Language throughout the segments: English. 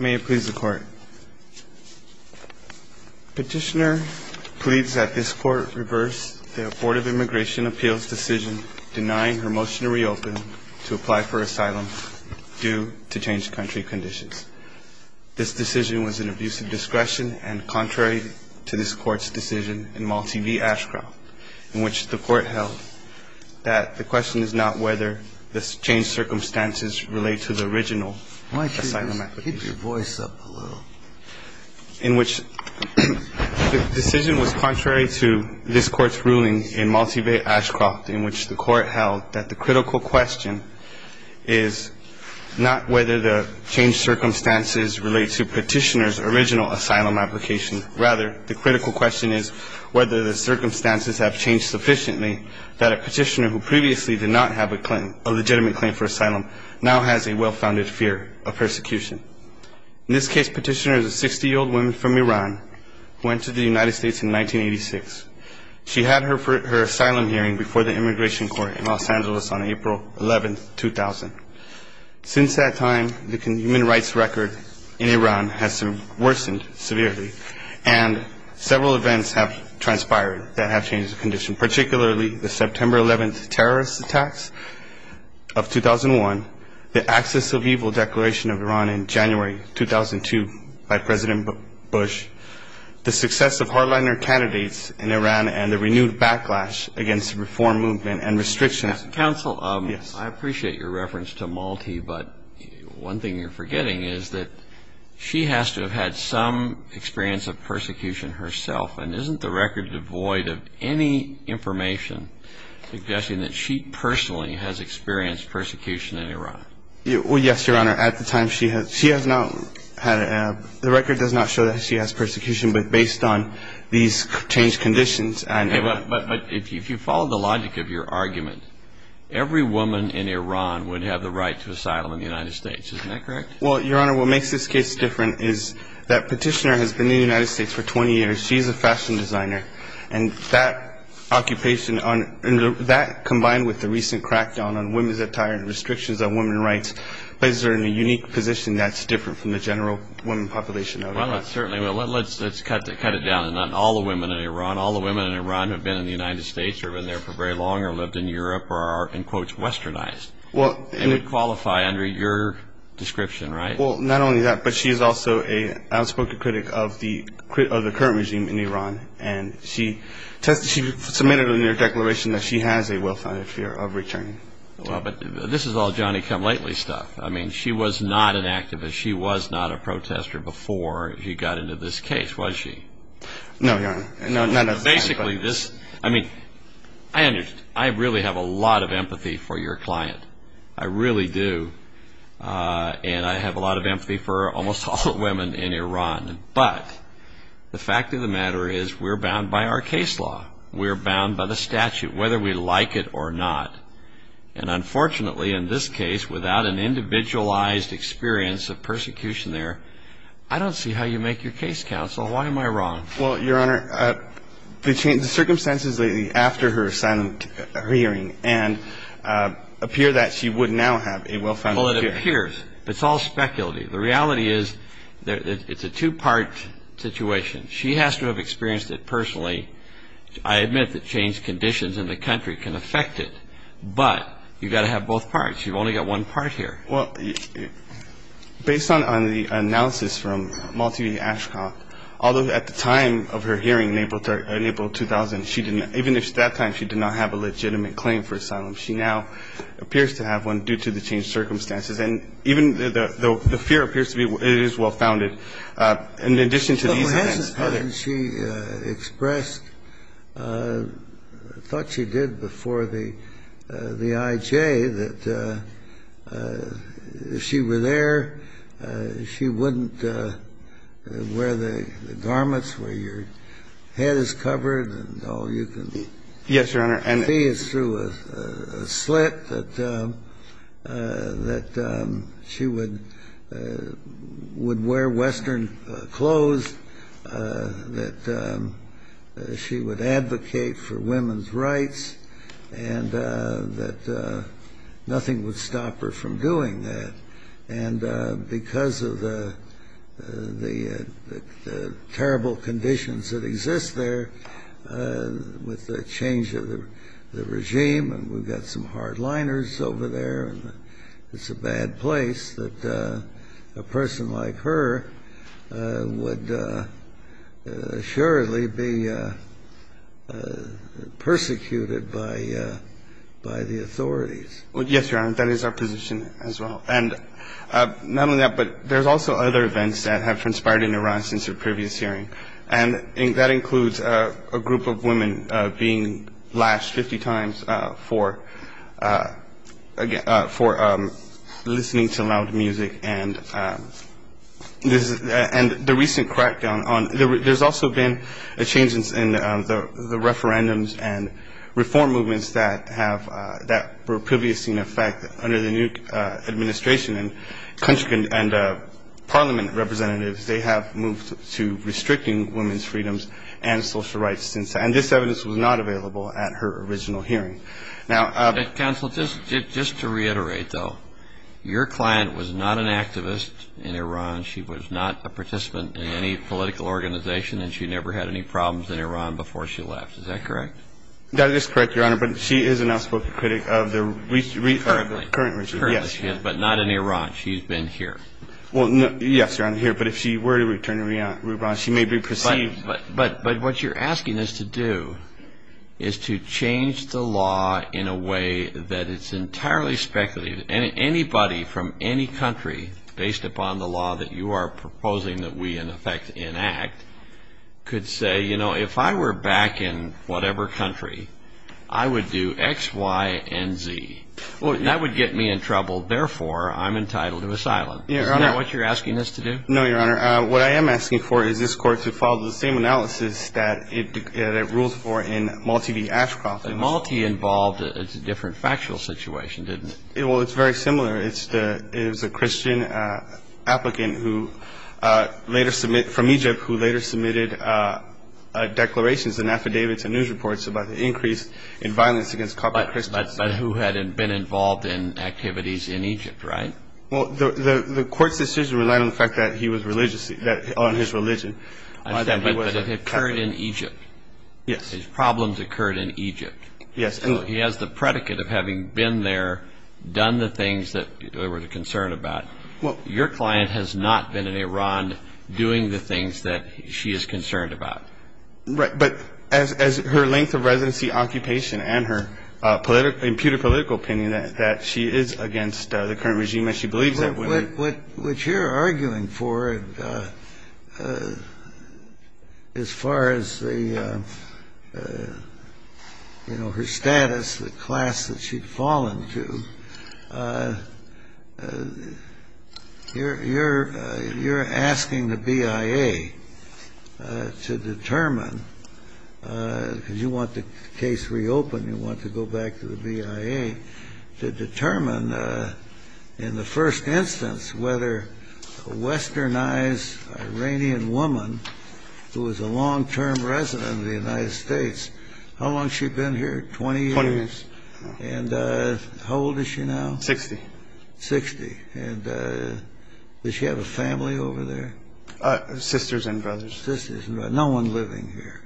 May it please the Court. Petitioner pleads that this Court reverse the Board of Immigration Appeals decision denying her motion to reopen to apply for asylum due to changed country conditions. This decision was an abuse of discretion and contrary to this Court's decision in Malti v. Ashcroft in which the Court held that the question is not whether the changed circumstances relate to the original asylum application. Rather, the critical question is whether the circumstances have changed sufficiently that a petitioner who previously did not have a legitimate claim for asylum now has a well-founded fear of persecution. In this case, petitioner is a 60-year-old woman from Iran who entered the United States in 1986. She had her asylum hearing before the Immigration Court in Los Angeles on April 11, 2000. Since that time, the human rights record in Iran has worsened severely, and several events have transpired that have changed the condition, particularly the September 11 terrorist attacks of 2001, the Access of Evil Declaration of Iran in January 2002 by President Bush, the success of hardliner candidates in Iran, and the renewed backlash against the reform movement and restrictions. I appreciate your reference to Malti, but one thing you're forgetting is that she has to have had some experience of persecution herself, and isn't the record devoid of any information suggesting that she personally has experienced persecution in Iran? Well, yes, Your Honor. At the time, she has not had a – the record does not show that she has persecution, but based on these changed conditions – But if you follow the logic of your argument, every woman in Iran would have the right to asylum in the United States. Isn't that correct? Well, Your Honor, what makes this case different is that Petitioner has been in the United States for 20 years. She's a fashion designer. And that occupation on – that, combined with the recent crackdown on women's attire and restrictions on women's rights, places her in a unique position that's different from the general women population of Iran. Well, certainly. Let's cut it down to not all the women in Iran. All the women in Iran who have been in the United States or have been there for very long or lived in Europe are, in quotes, westernized. They would qualify under your description, right? Well, not only that, but she is also an outspoken critic of the current regime in Iran, and she submitted in her declaration that she has a well-founded fear of returning. Well, but this is all Johnny-come-lately stuff. I mean, she was not an activist. She was not a protester before she got into this case, was she? No, Your Honor. No, not at this time. I mean, I really have a lot of empathy for your client. I really do. And I have a lot of empathy for almost all the women in Iran. But the fact of the matter is we're bound by our case law. We're bound by the statute, whether we like it or not. And unfortunately, in this case, without an individualized experience of persecution there, I don't see how you make your case, counsel. Why am I wrong? Well, Your Honor, the circumstances lately after her hearing appear that she would now have a well-founded fear. Well, it appears. It's all speculative. The reality is it's a two-part situation. She has to have experienced it personally. I admit that changed conditions in the country can affect it. But you've got to have both parts. You've only got one part here. Well, based on the analysis from Malti V. Ashcock, although at the time of her hearing in April 2000, even at that time she did not have a legitimate claim for asylum, she now appears to have one due to the changed circumstances. And even though the fear appears to be it is well-founded, in addition to these events. And she expressed, I thought she did before the I.J., that if she were there, she wouldn't wear the garments where your head is covered and all you can see is through a slit, that she would wear Western clothes. That she would advocate for women's rights and that nothing would stop her from doing that. And because of the terrible conditions that exist there, with the change of the regime, and we've got some hardliners over there, it's a bad place that a person like her would surely be persecuted by the authorities. Yes, Your Honor, that is our position as well. And not only that, but there's also other events that have transpired in Iran since her previous hearing. And that includes a group of women being lashed 50 times for listening to loud music. And the recent crackdown, there's also been a change in the referendums and reform movements that were previously in effect under the new administration. And parliament representatives, they have moved to restricting women's freedoms and social rights. And this evidence was not available at her original hearing. Counsel, just to reiterate though, your client was not an activist in Iran, she was not a participant in any political organization, and she never had any problems in Iran before she left, is that correct? That is correct, Your Honor, but she is an outspoken critic of the current regime, yes. But not in Iran, she's been here. Yes, Your Honor, here, but if she were to return to Iran, she may be perceived... But what you're asking us to do is to change the law in a way that it's entirely speculative. Anybody from any country, based upon the law that you are proposing that we in effect enact, could say, you know, if I were back in whatever country, I would do X, Y, and Z. That would get me in trouble, therefore I'm entitled to asylum. Is that what you're asking us to do? No, Your Honor. What I am asking for is this Court to follow the same analysis that it rules for in Malti v. Ashcroft. Malti involved a different factual situation, didn't it? Well, it's very similar. It was a Christian applicant from Egypt who later submitted declarations and affidavits and news reports about the increase in violence against Catholic Christians. But who had been involved in activities in Egypt, right? Well, the Court's decision relied on the fact that he was religious, on his religion. But it occurred in Egypt. Yes. His problems occurred in Egypt. Yes. So he has the predicate of having been there, done the things that there was a concern about. Your client has not been in Iran doing the things that she is concerned about. Right. But as her length of residency, occupation, and her imputed political opinion that she is against the current regime, and she believes that. What you're arguing for as far as her status, the class that she'd fallen to, you're asking the BIA to determine, because you want the case reopened, and you want to go back to the BIA, to determine in the first instance whether a westernized Iranian woman who was a long-term resident of the United States, how long has she been here, 20 years? Twenty years. And how old is she now? Sixty. Sixty. And does she have a family over there? Sisters and brothers. Sisters and brothers. No one living here.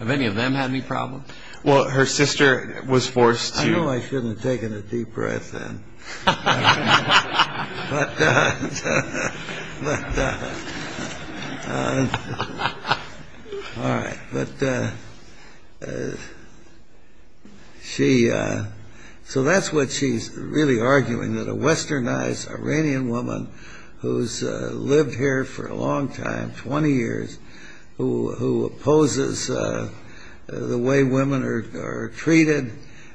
Have any of them had any problems? Well, her sister was forced to. I know I shouldn't have taken a deep breath then. But all right. But she, so that's what she's really arguing, that a westernized Iranian woman who's lived here for a long time, 20 years, who opposes the way women are treated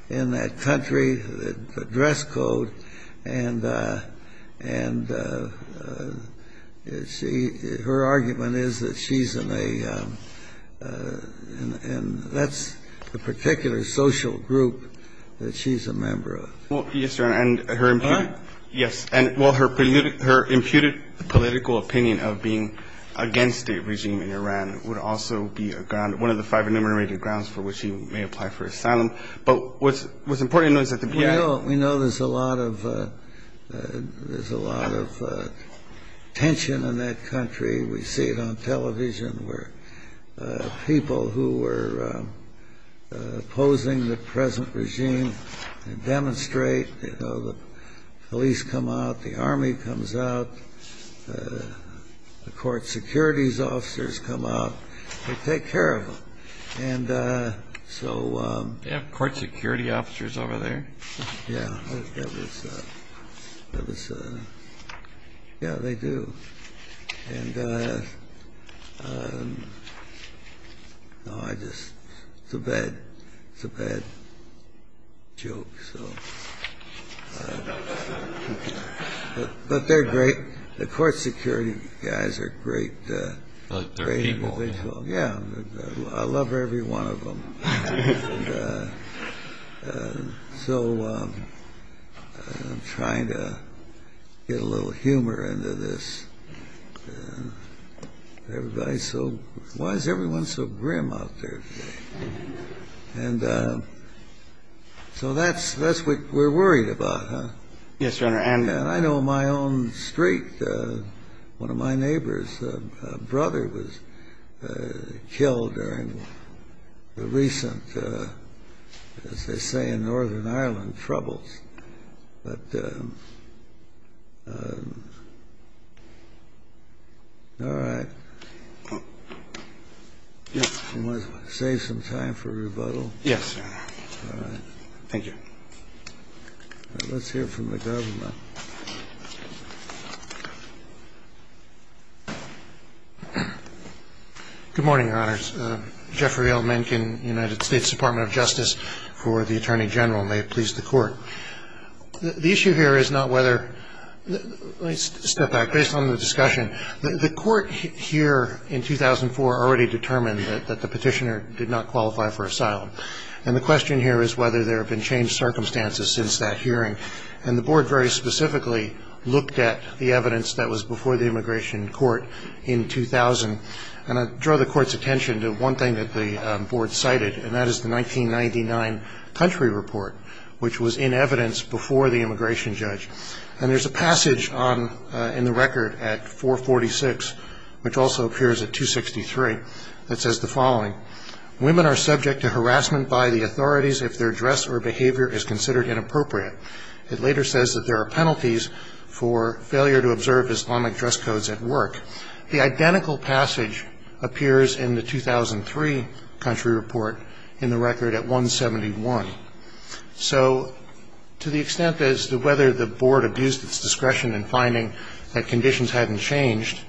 in that country, the dress code, and her argument is that she's in a, and that's a particular social group that she's a member of. Well, yes, Your Honor, and her imputed political opinion of being against a regime in Iran would also be a ground, one of the five enumerated grounds for which she may apply for asylum. But what's important to note is that the BIA. We know there's a lot of tension in that country. We see it on television where people who were opposing the present regime demonstrate, you know, the police come out, the Army comes out, the court securities officers come out, they take care of them. And so. They have court security officers over there? Yeah, that was, yeah, they do. And, no, I just, it's a bad, it's a bad joke, so. But they're great. The court security guys are great. But they're evil. Yeah, I love every one of them. And so I'm trying to get a little humor into this. Everybody's so, why is everyone so grim out there today? And so that's what we're worried about, huh? Yes, Your Honor. And I know my own street, one of my neighbor's brother was killed during the recent, as they say in Northern Ireland, troubles. But, all right. You want to save some time for rebuttal? Yes, Your Honor. All right. Thank you. Let's hear from the government. Good morning, Your Honors. Jeffrey L. Mencken, United States Department of Justice, for the Attorney General. May it please the Court. The issue here is not whether, let's step back. Based on the discussion, the court here in 2004 already determined that the petitioner did not qualify for asylum. And the question here is whether there have been changed circumstances since that hearing. And the Board very specifically looked at the evidence that was before the immigration court in 2000. And I draw the Court's attention to one thing that the Board cited, and that is the 1999 country report, which was in evidence before the immigration judge. And there's a passage in the record at 446, which also appears at 263, that says the following. Women are subject to harassment by the authorities if their dress or behavior is considered inappropriate. It later says that there are penalties for failure to observe Islamic dress codes at work. The identical passage appears in the 2003 country report in the record at 171. So to the extent as to whether the Board abused its discretion in finding that conditions haven't changed,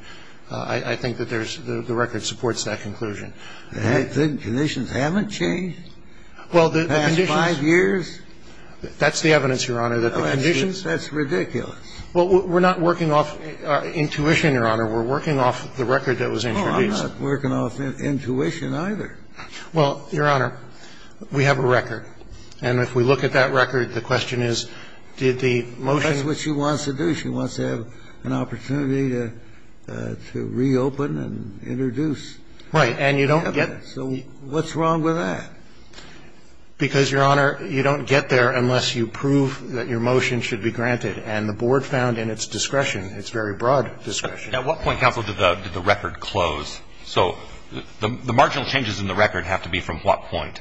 I think that there's the record supports that conclusion. The conditions haven't changed? Well, the conditions. The past five years? That's the evidence, Your Honor, that the conditions. That's ridiculous. Well, we're not working off intuition, Your Honor. We're working off the record that was introduced. Oh, I'm not working off intuition either. Well, Your Honor, we have a record. And if we look at that record, the question is, did the motion ---- That's what she wants to do. She wants to have an opportunity to reopen and introduce. Right. And you don't get ---- So what's wrong with that? Because, Your Honor, you don't get there unless you prove that your motion should be granted. And the Board found in its discretion, its very broad discretion ---- At what point, counsel, did the record close? So the marginal changes in the record have to be from what point?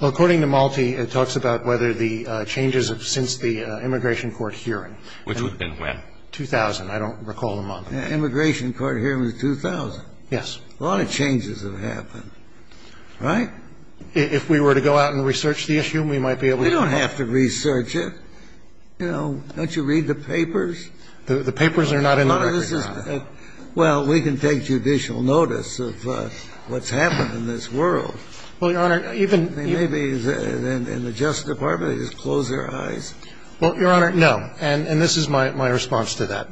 Well, according to Malte, it talks about whether the changes have since the immigration court hearing. Which would have been when? 2000. I don't recall the month. Immigration court hearing was 2000. Yes. A lot of changes have happened. Right? If we were to go out and research the issue, we might be able to ---- You don't have to research it. You know, don't you read the papers? The papers are not in the record, Your Honor. Well, we can take judicial notice of what's happened in this world. Well, Your Honor, even ---- Maybe in the Justice Department they just close their eyes. Well, Your Honor, no. And this is my response to that.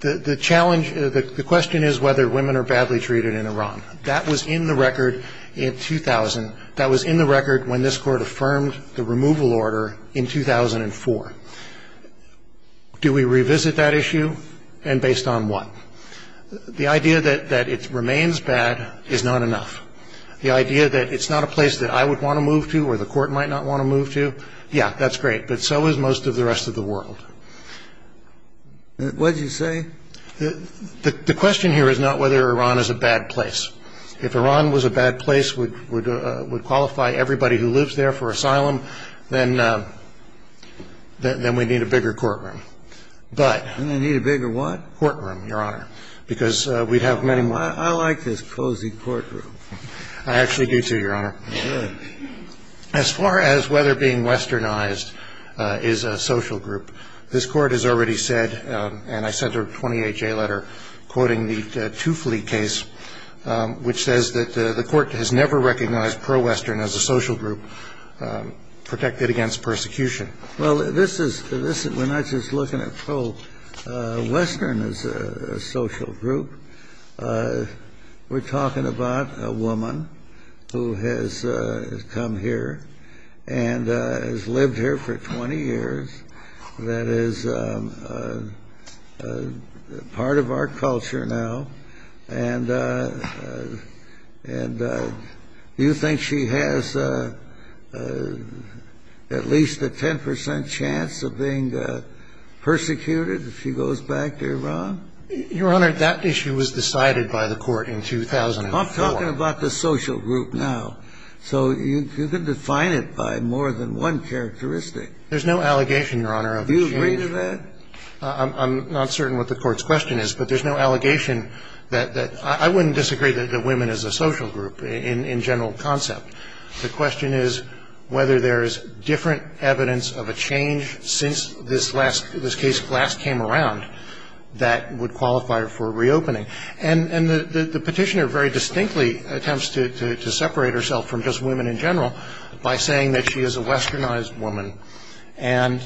The challenge, the question is whether women are badly treated in Iran. That was in the record in 2000. That was in the record when this Court affirmed the removal order in 2004. Do we revisit that issue? And based on what? The idea that it remains bad is not enough. The idea that it's not a place that I would want to move to or the Court might not want to move to, yeah, that's great. But so is most of the rest of the world. What did you say? The question here is not whether Iran is a bad place. If Iran was a bad place, would qualify everybody who lives there for asylum, then we'd need a bigger courtroom. But ---- We'd need a bigger what? Courtroom, Your Honor, because we'd have many more. I like this cozy courtroom. I actually do, too, Your Honor. Good. As far as whether being westernized is a social group, this Court has already said, and I sent her a 20HA letter quoting the Tufli case, which says that the persecution. Well, this is we're not just looking at pro-western as a social group. We're talking about a woman who has come here and has lived here for 20 years that is part of our culture now. And do you think she has at least a 10 percent chance of being persecuted if she goes back to Iran? Your Honor, that issue was decided by the Court in 2004. I'm talking about the social group now. So you can define it by more than one characteristic. There's no allegation, Your Honor, of that. Do you agree to that? I'm not certain what the Court's question is. But there's no allegation that the ‑‑ I wouldn't disagree that women is a social group in general concept. The question is whether there is different evidence of a change since this last ‑‑ this case last came around that would qualify her for reopening. And the petitioner very distinctly attempts to separate herself from just women in general by saying that she is a westernized woman. And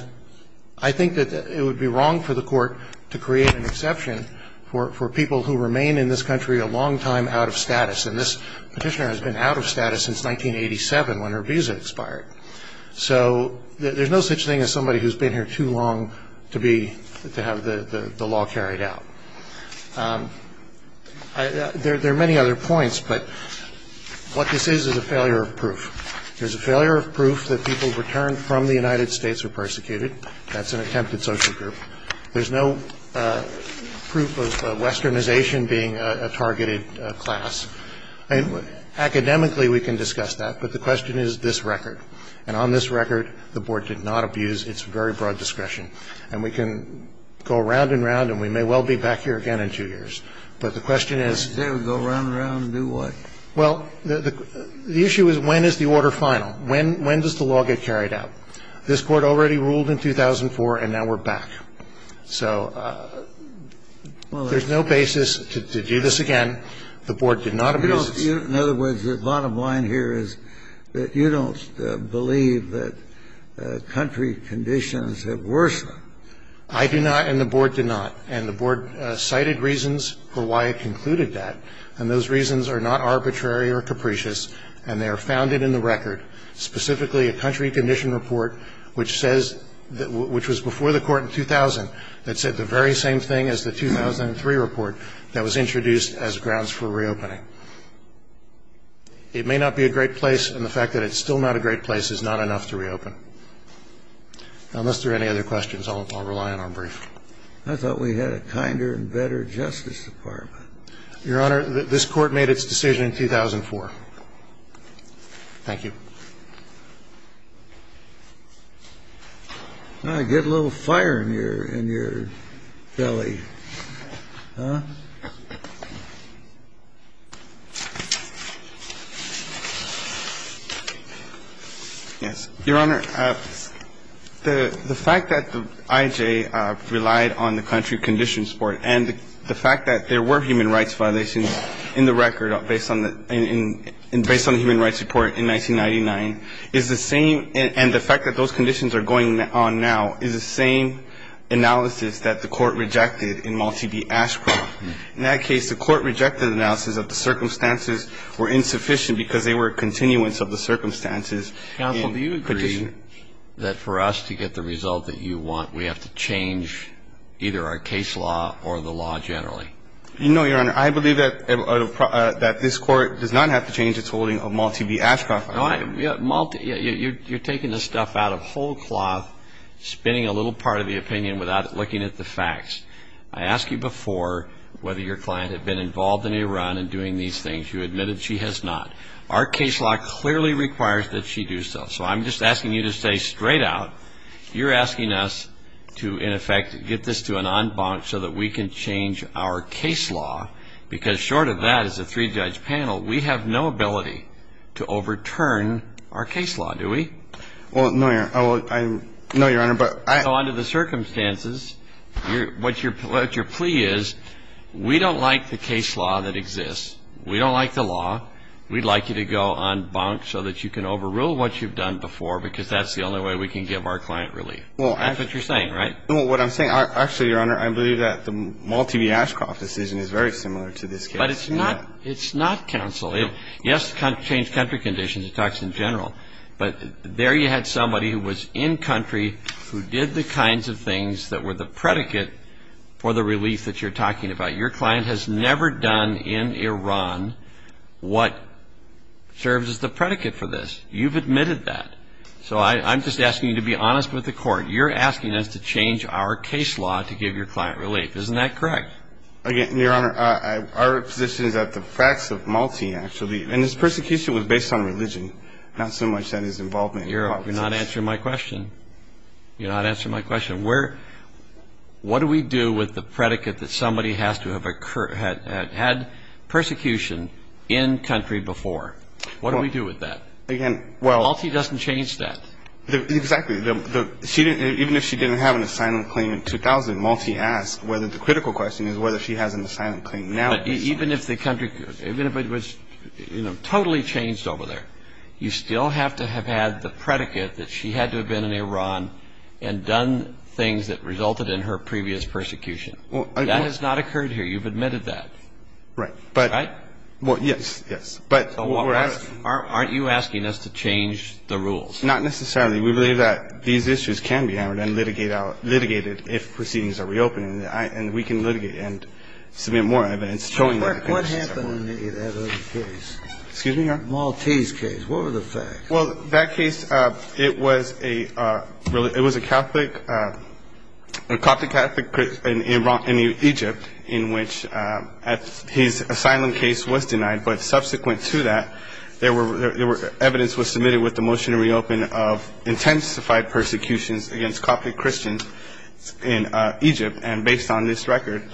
I think that it would be wrong for the Court to create an exception for people who remain in this country a long time out of status. And this petitioner has been out of status since 1987 when her visa expired. So there's no such thing as somebody who's been here too long to be ‑‑ to have the law carried out. There are many other points, but what this is is a failure of proof. There's a failure of proof that people returned from the United States were persecuted. That's an attempted social group. There's no proof of westernization being a targeted class. Academically, we can discuss that. But the question is this record. And on this record, the Board did not abuse its very broad discretion. And we can go round and round, and we may well be back here again in two years. But the question is ‑‑ They would go round and round and do what? Well, the issue is when is the order final? When does the law get carried out? This Court already ruled in 2004, and now we're back. So there's no basis to do this again. The Board did not abuse its ‑‑ In other words, the bottom line here is that you don't believe that country conditions have worsened. I do not, and the Board did not. And the Board cited reasons for why it concluded that. And those reasons are not arbitrary or capricious, and they are founded in the record, specifically a country condition report, which says ‑‑ which was before the Court in 2000, that said the very same thing as the 2003 report that was introduced as grounds for reopening. It may not be a great place, and the fact that it's still not a great place is not enough to reopen. Unless there are any other questions, I'll rely on our brief. I thought we had a kinder and better Justice Department. Your Honor, this Court made its decision in 2004. Thank you. Get a little fire in your belly, huh? Yes. Your Honor, the fact that the IJ relied on the country conditions report and the fact that there were human rights violations in the record based on the human rights report in 1999 is the same and the fact that those conditions are going on now is the same analysis that the Court rejected in Malti v. Ashcroft. In that case, the Court rejected the analysis that the circumstances were insufficient because they were continuance of the circumstances. Counsel, do you agree that for us to get the result that you want, we have to change either our case law or the law generally? No, Your Honor. I believe that this Court does not have to change its holding of Malti v. Ashcroft. Malti, you're taking this stuff out of whole cloth, spinning a little part of the opinion without looking at the facts. I asked you before whether your client had been involved in Iran and doing these things. You admitted she has not. Our case law clearly requires that she do so. So I'm just asking you to say straight out, you're asking us to, in effect, get this to an en banc so that we can change our case law because short of that, as a three-judge panel, we have no ability to overturn our case law, do we? Well, no, Your Honor. No, Your Honor, but I — So under the circumstances, what your plea is, we don't like the case law that exists. We don't like the law. We'd like you to go en banc so that you can overrule what you've done before because that's the only way we can give our client relief. That's what you're saying, right? Well, what I'm saying, actually, Your Honor, I believe that the Malti v. Ashcroft decision is very similar to this case. But it's not counsel. Yes, it changed country conditions. It talks in general. But there you had somebody who was in country, who did the kinds of things that were the predicate for the relief that you're talking about. Your client has never done in Iran what serves as the predicate for this. You've admitted that. So I'm just asking you to be honest with the Court. You're asking us to change our case law to give your client relief. Isn't that correct? Again, Your Honor, our position is that the facts of Malti, actually, and his persecution was based on religion, not so much that his involvement in politics. You're not answering my question. You're not answering my question. What do we do with the predicate that somebody has to have had persecution in country before? What do we do with that? Malti doesn't change that. Exactly. Even if she didn't have an asylum claim in 2000, Malti asked whether the critical question is whether she has an asylum claim now. But even if the country was totally changed over there, you still have to have had the predicate that she had to have been in Iran and done things that resulted in her previous persecution. That has not occurred here. You've admitted that. Right. Right? Well, yes, yes. Aren't you asking us to change the rules? Not necessarily. We believe that these issues can be hammered and litigated if proceedings are reopened, and we can litigate and submit more evidence showing that. What happened in that other case? Excuse me, Your Honor? Malti's case. What were the facts? Well, that case, it was a Catholic, a Coptic Catholic in Egypt in which his asylum case was denied. But subsequent to that, evidence was submitted with the motion to reopen of intensified persecutions against Coptic Christians in Egypt. And based on this record,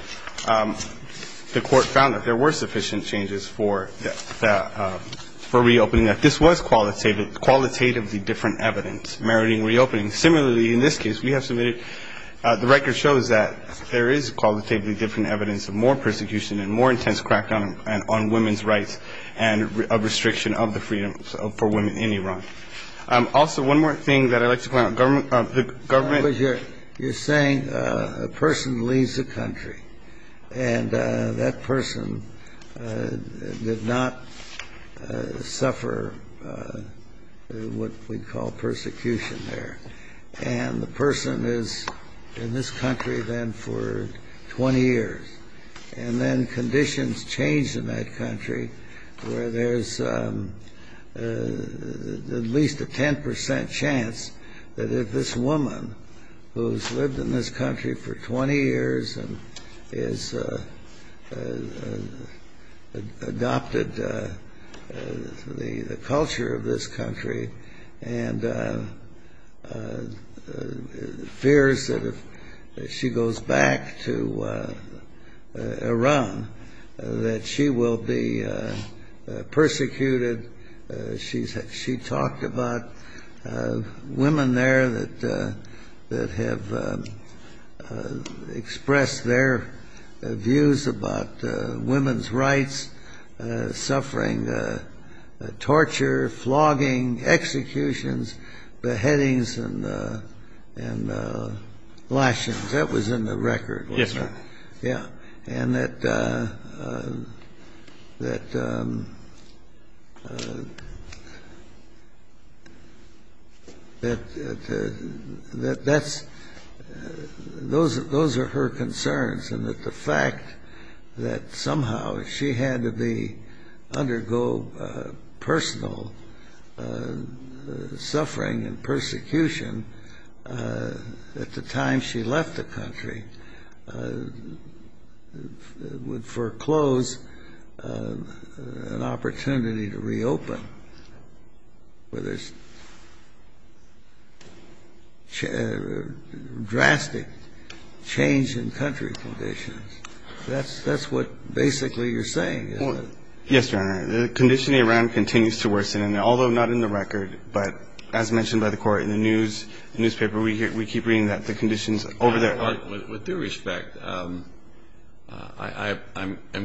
the court found that there were sufficient changes for reopening, that this was qualitatively different evidence meriting reopening. Similarly, in this case we have submitted, the record shows that there is qualitatively different evidence of more persecution and more intense crackdown on women's rights and a restriction of the freedom for women in Iran. Also, one more thing that I'd like to point out, the government. You're saying a person leaves the country, and that person did not suffer what we call persecution there. And the person is in this country then for 20 years. And then conditions change in that country where there's at least a 10 percent chance that if this woman who's lived in this country for 20 years and has adopted the culture of this country and fears that if she goes back to Iran that she will be persecuted. She talked about women there that have expressed their views about women's rights, suffering torture, flogging, executions, beheadings and lashings. That was in the record, wasn't it? Yes, sir. Yeah. And that those are her concerns. And that the fact that somehow she had to undergo personal suffering and persecution at the time she left the country would foreclose an opportunity to reopen where there's drastic change in country conditions. That's what basically you're saying, isn't it? Yes, Your Honor. The condition in Iran continues to worsen. And although not in the record, but as mentioned by the Court in the newspaper, we keep reading that the conditions over there are. With due respect, I'm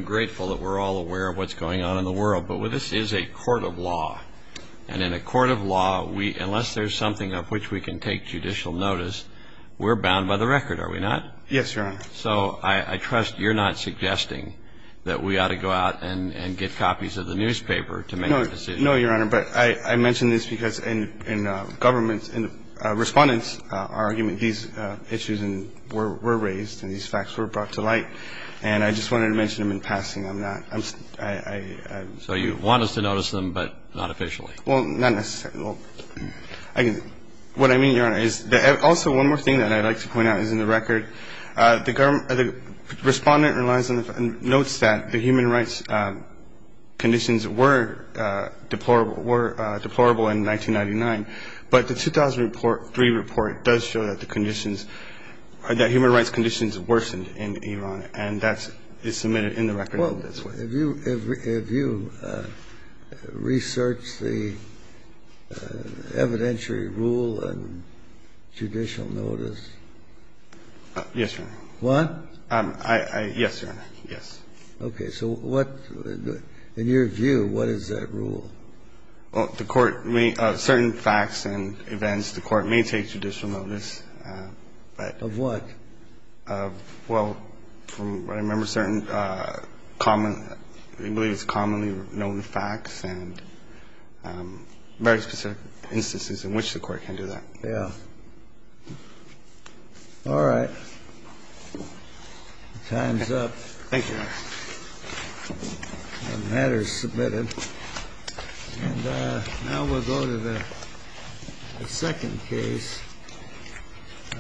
grateful that we're all aware of what's going on in the world. But this is a court of law. And in a court of law, unless there's something of which we can take judicial notice, we're bound by the record, are we not? Yes, Your Honor. So I trust you're not suggesting that we ought to go out and get copies of the newspaper to make a decision. No, Your Honor. But I mention this because in government, in respondents' argument, these issues were raised and these facts were brought to light. And I just wanted to mention them in passing. I'm not. So you want us to notice them, but not officially? Well, not necessarily. What I mean, Your Honor, is also one more thing that I'd like to point out is in the record, the government respondent notes that the human rights conditions were deplorable in 1999, but the 2003 report does show that the conditions, that human rights conditions worsened in Iran, and that is submitted in the record in this way. Well, if you research the evidentiary rule and judicial notice, you'll notice that you have to take judicial notice in order to do that. and make a decision, but I'm just asking you to notice. Yes, Your Honor. What? Yes, Your Honor. Yes. Okay. So what the near view, what is that rule? Well, the court may – certain facts and events, the court may take judicial notice, but – Of what? Well, from what I remember, certain common – we believe it's commonly known facts and very specific instances in which the court can do that. Yeah. All right. Time's up. Thank you, Your Honor. The matter is submitted. And now we'll go to the second case.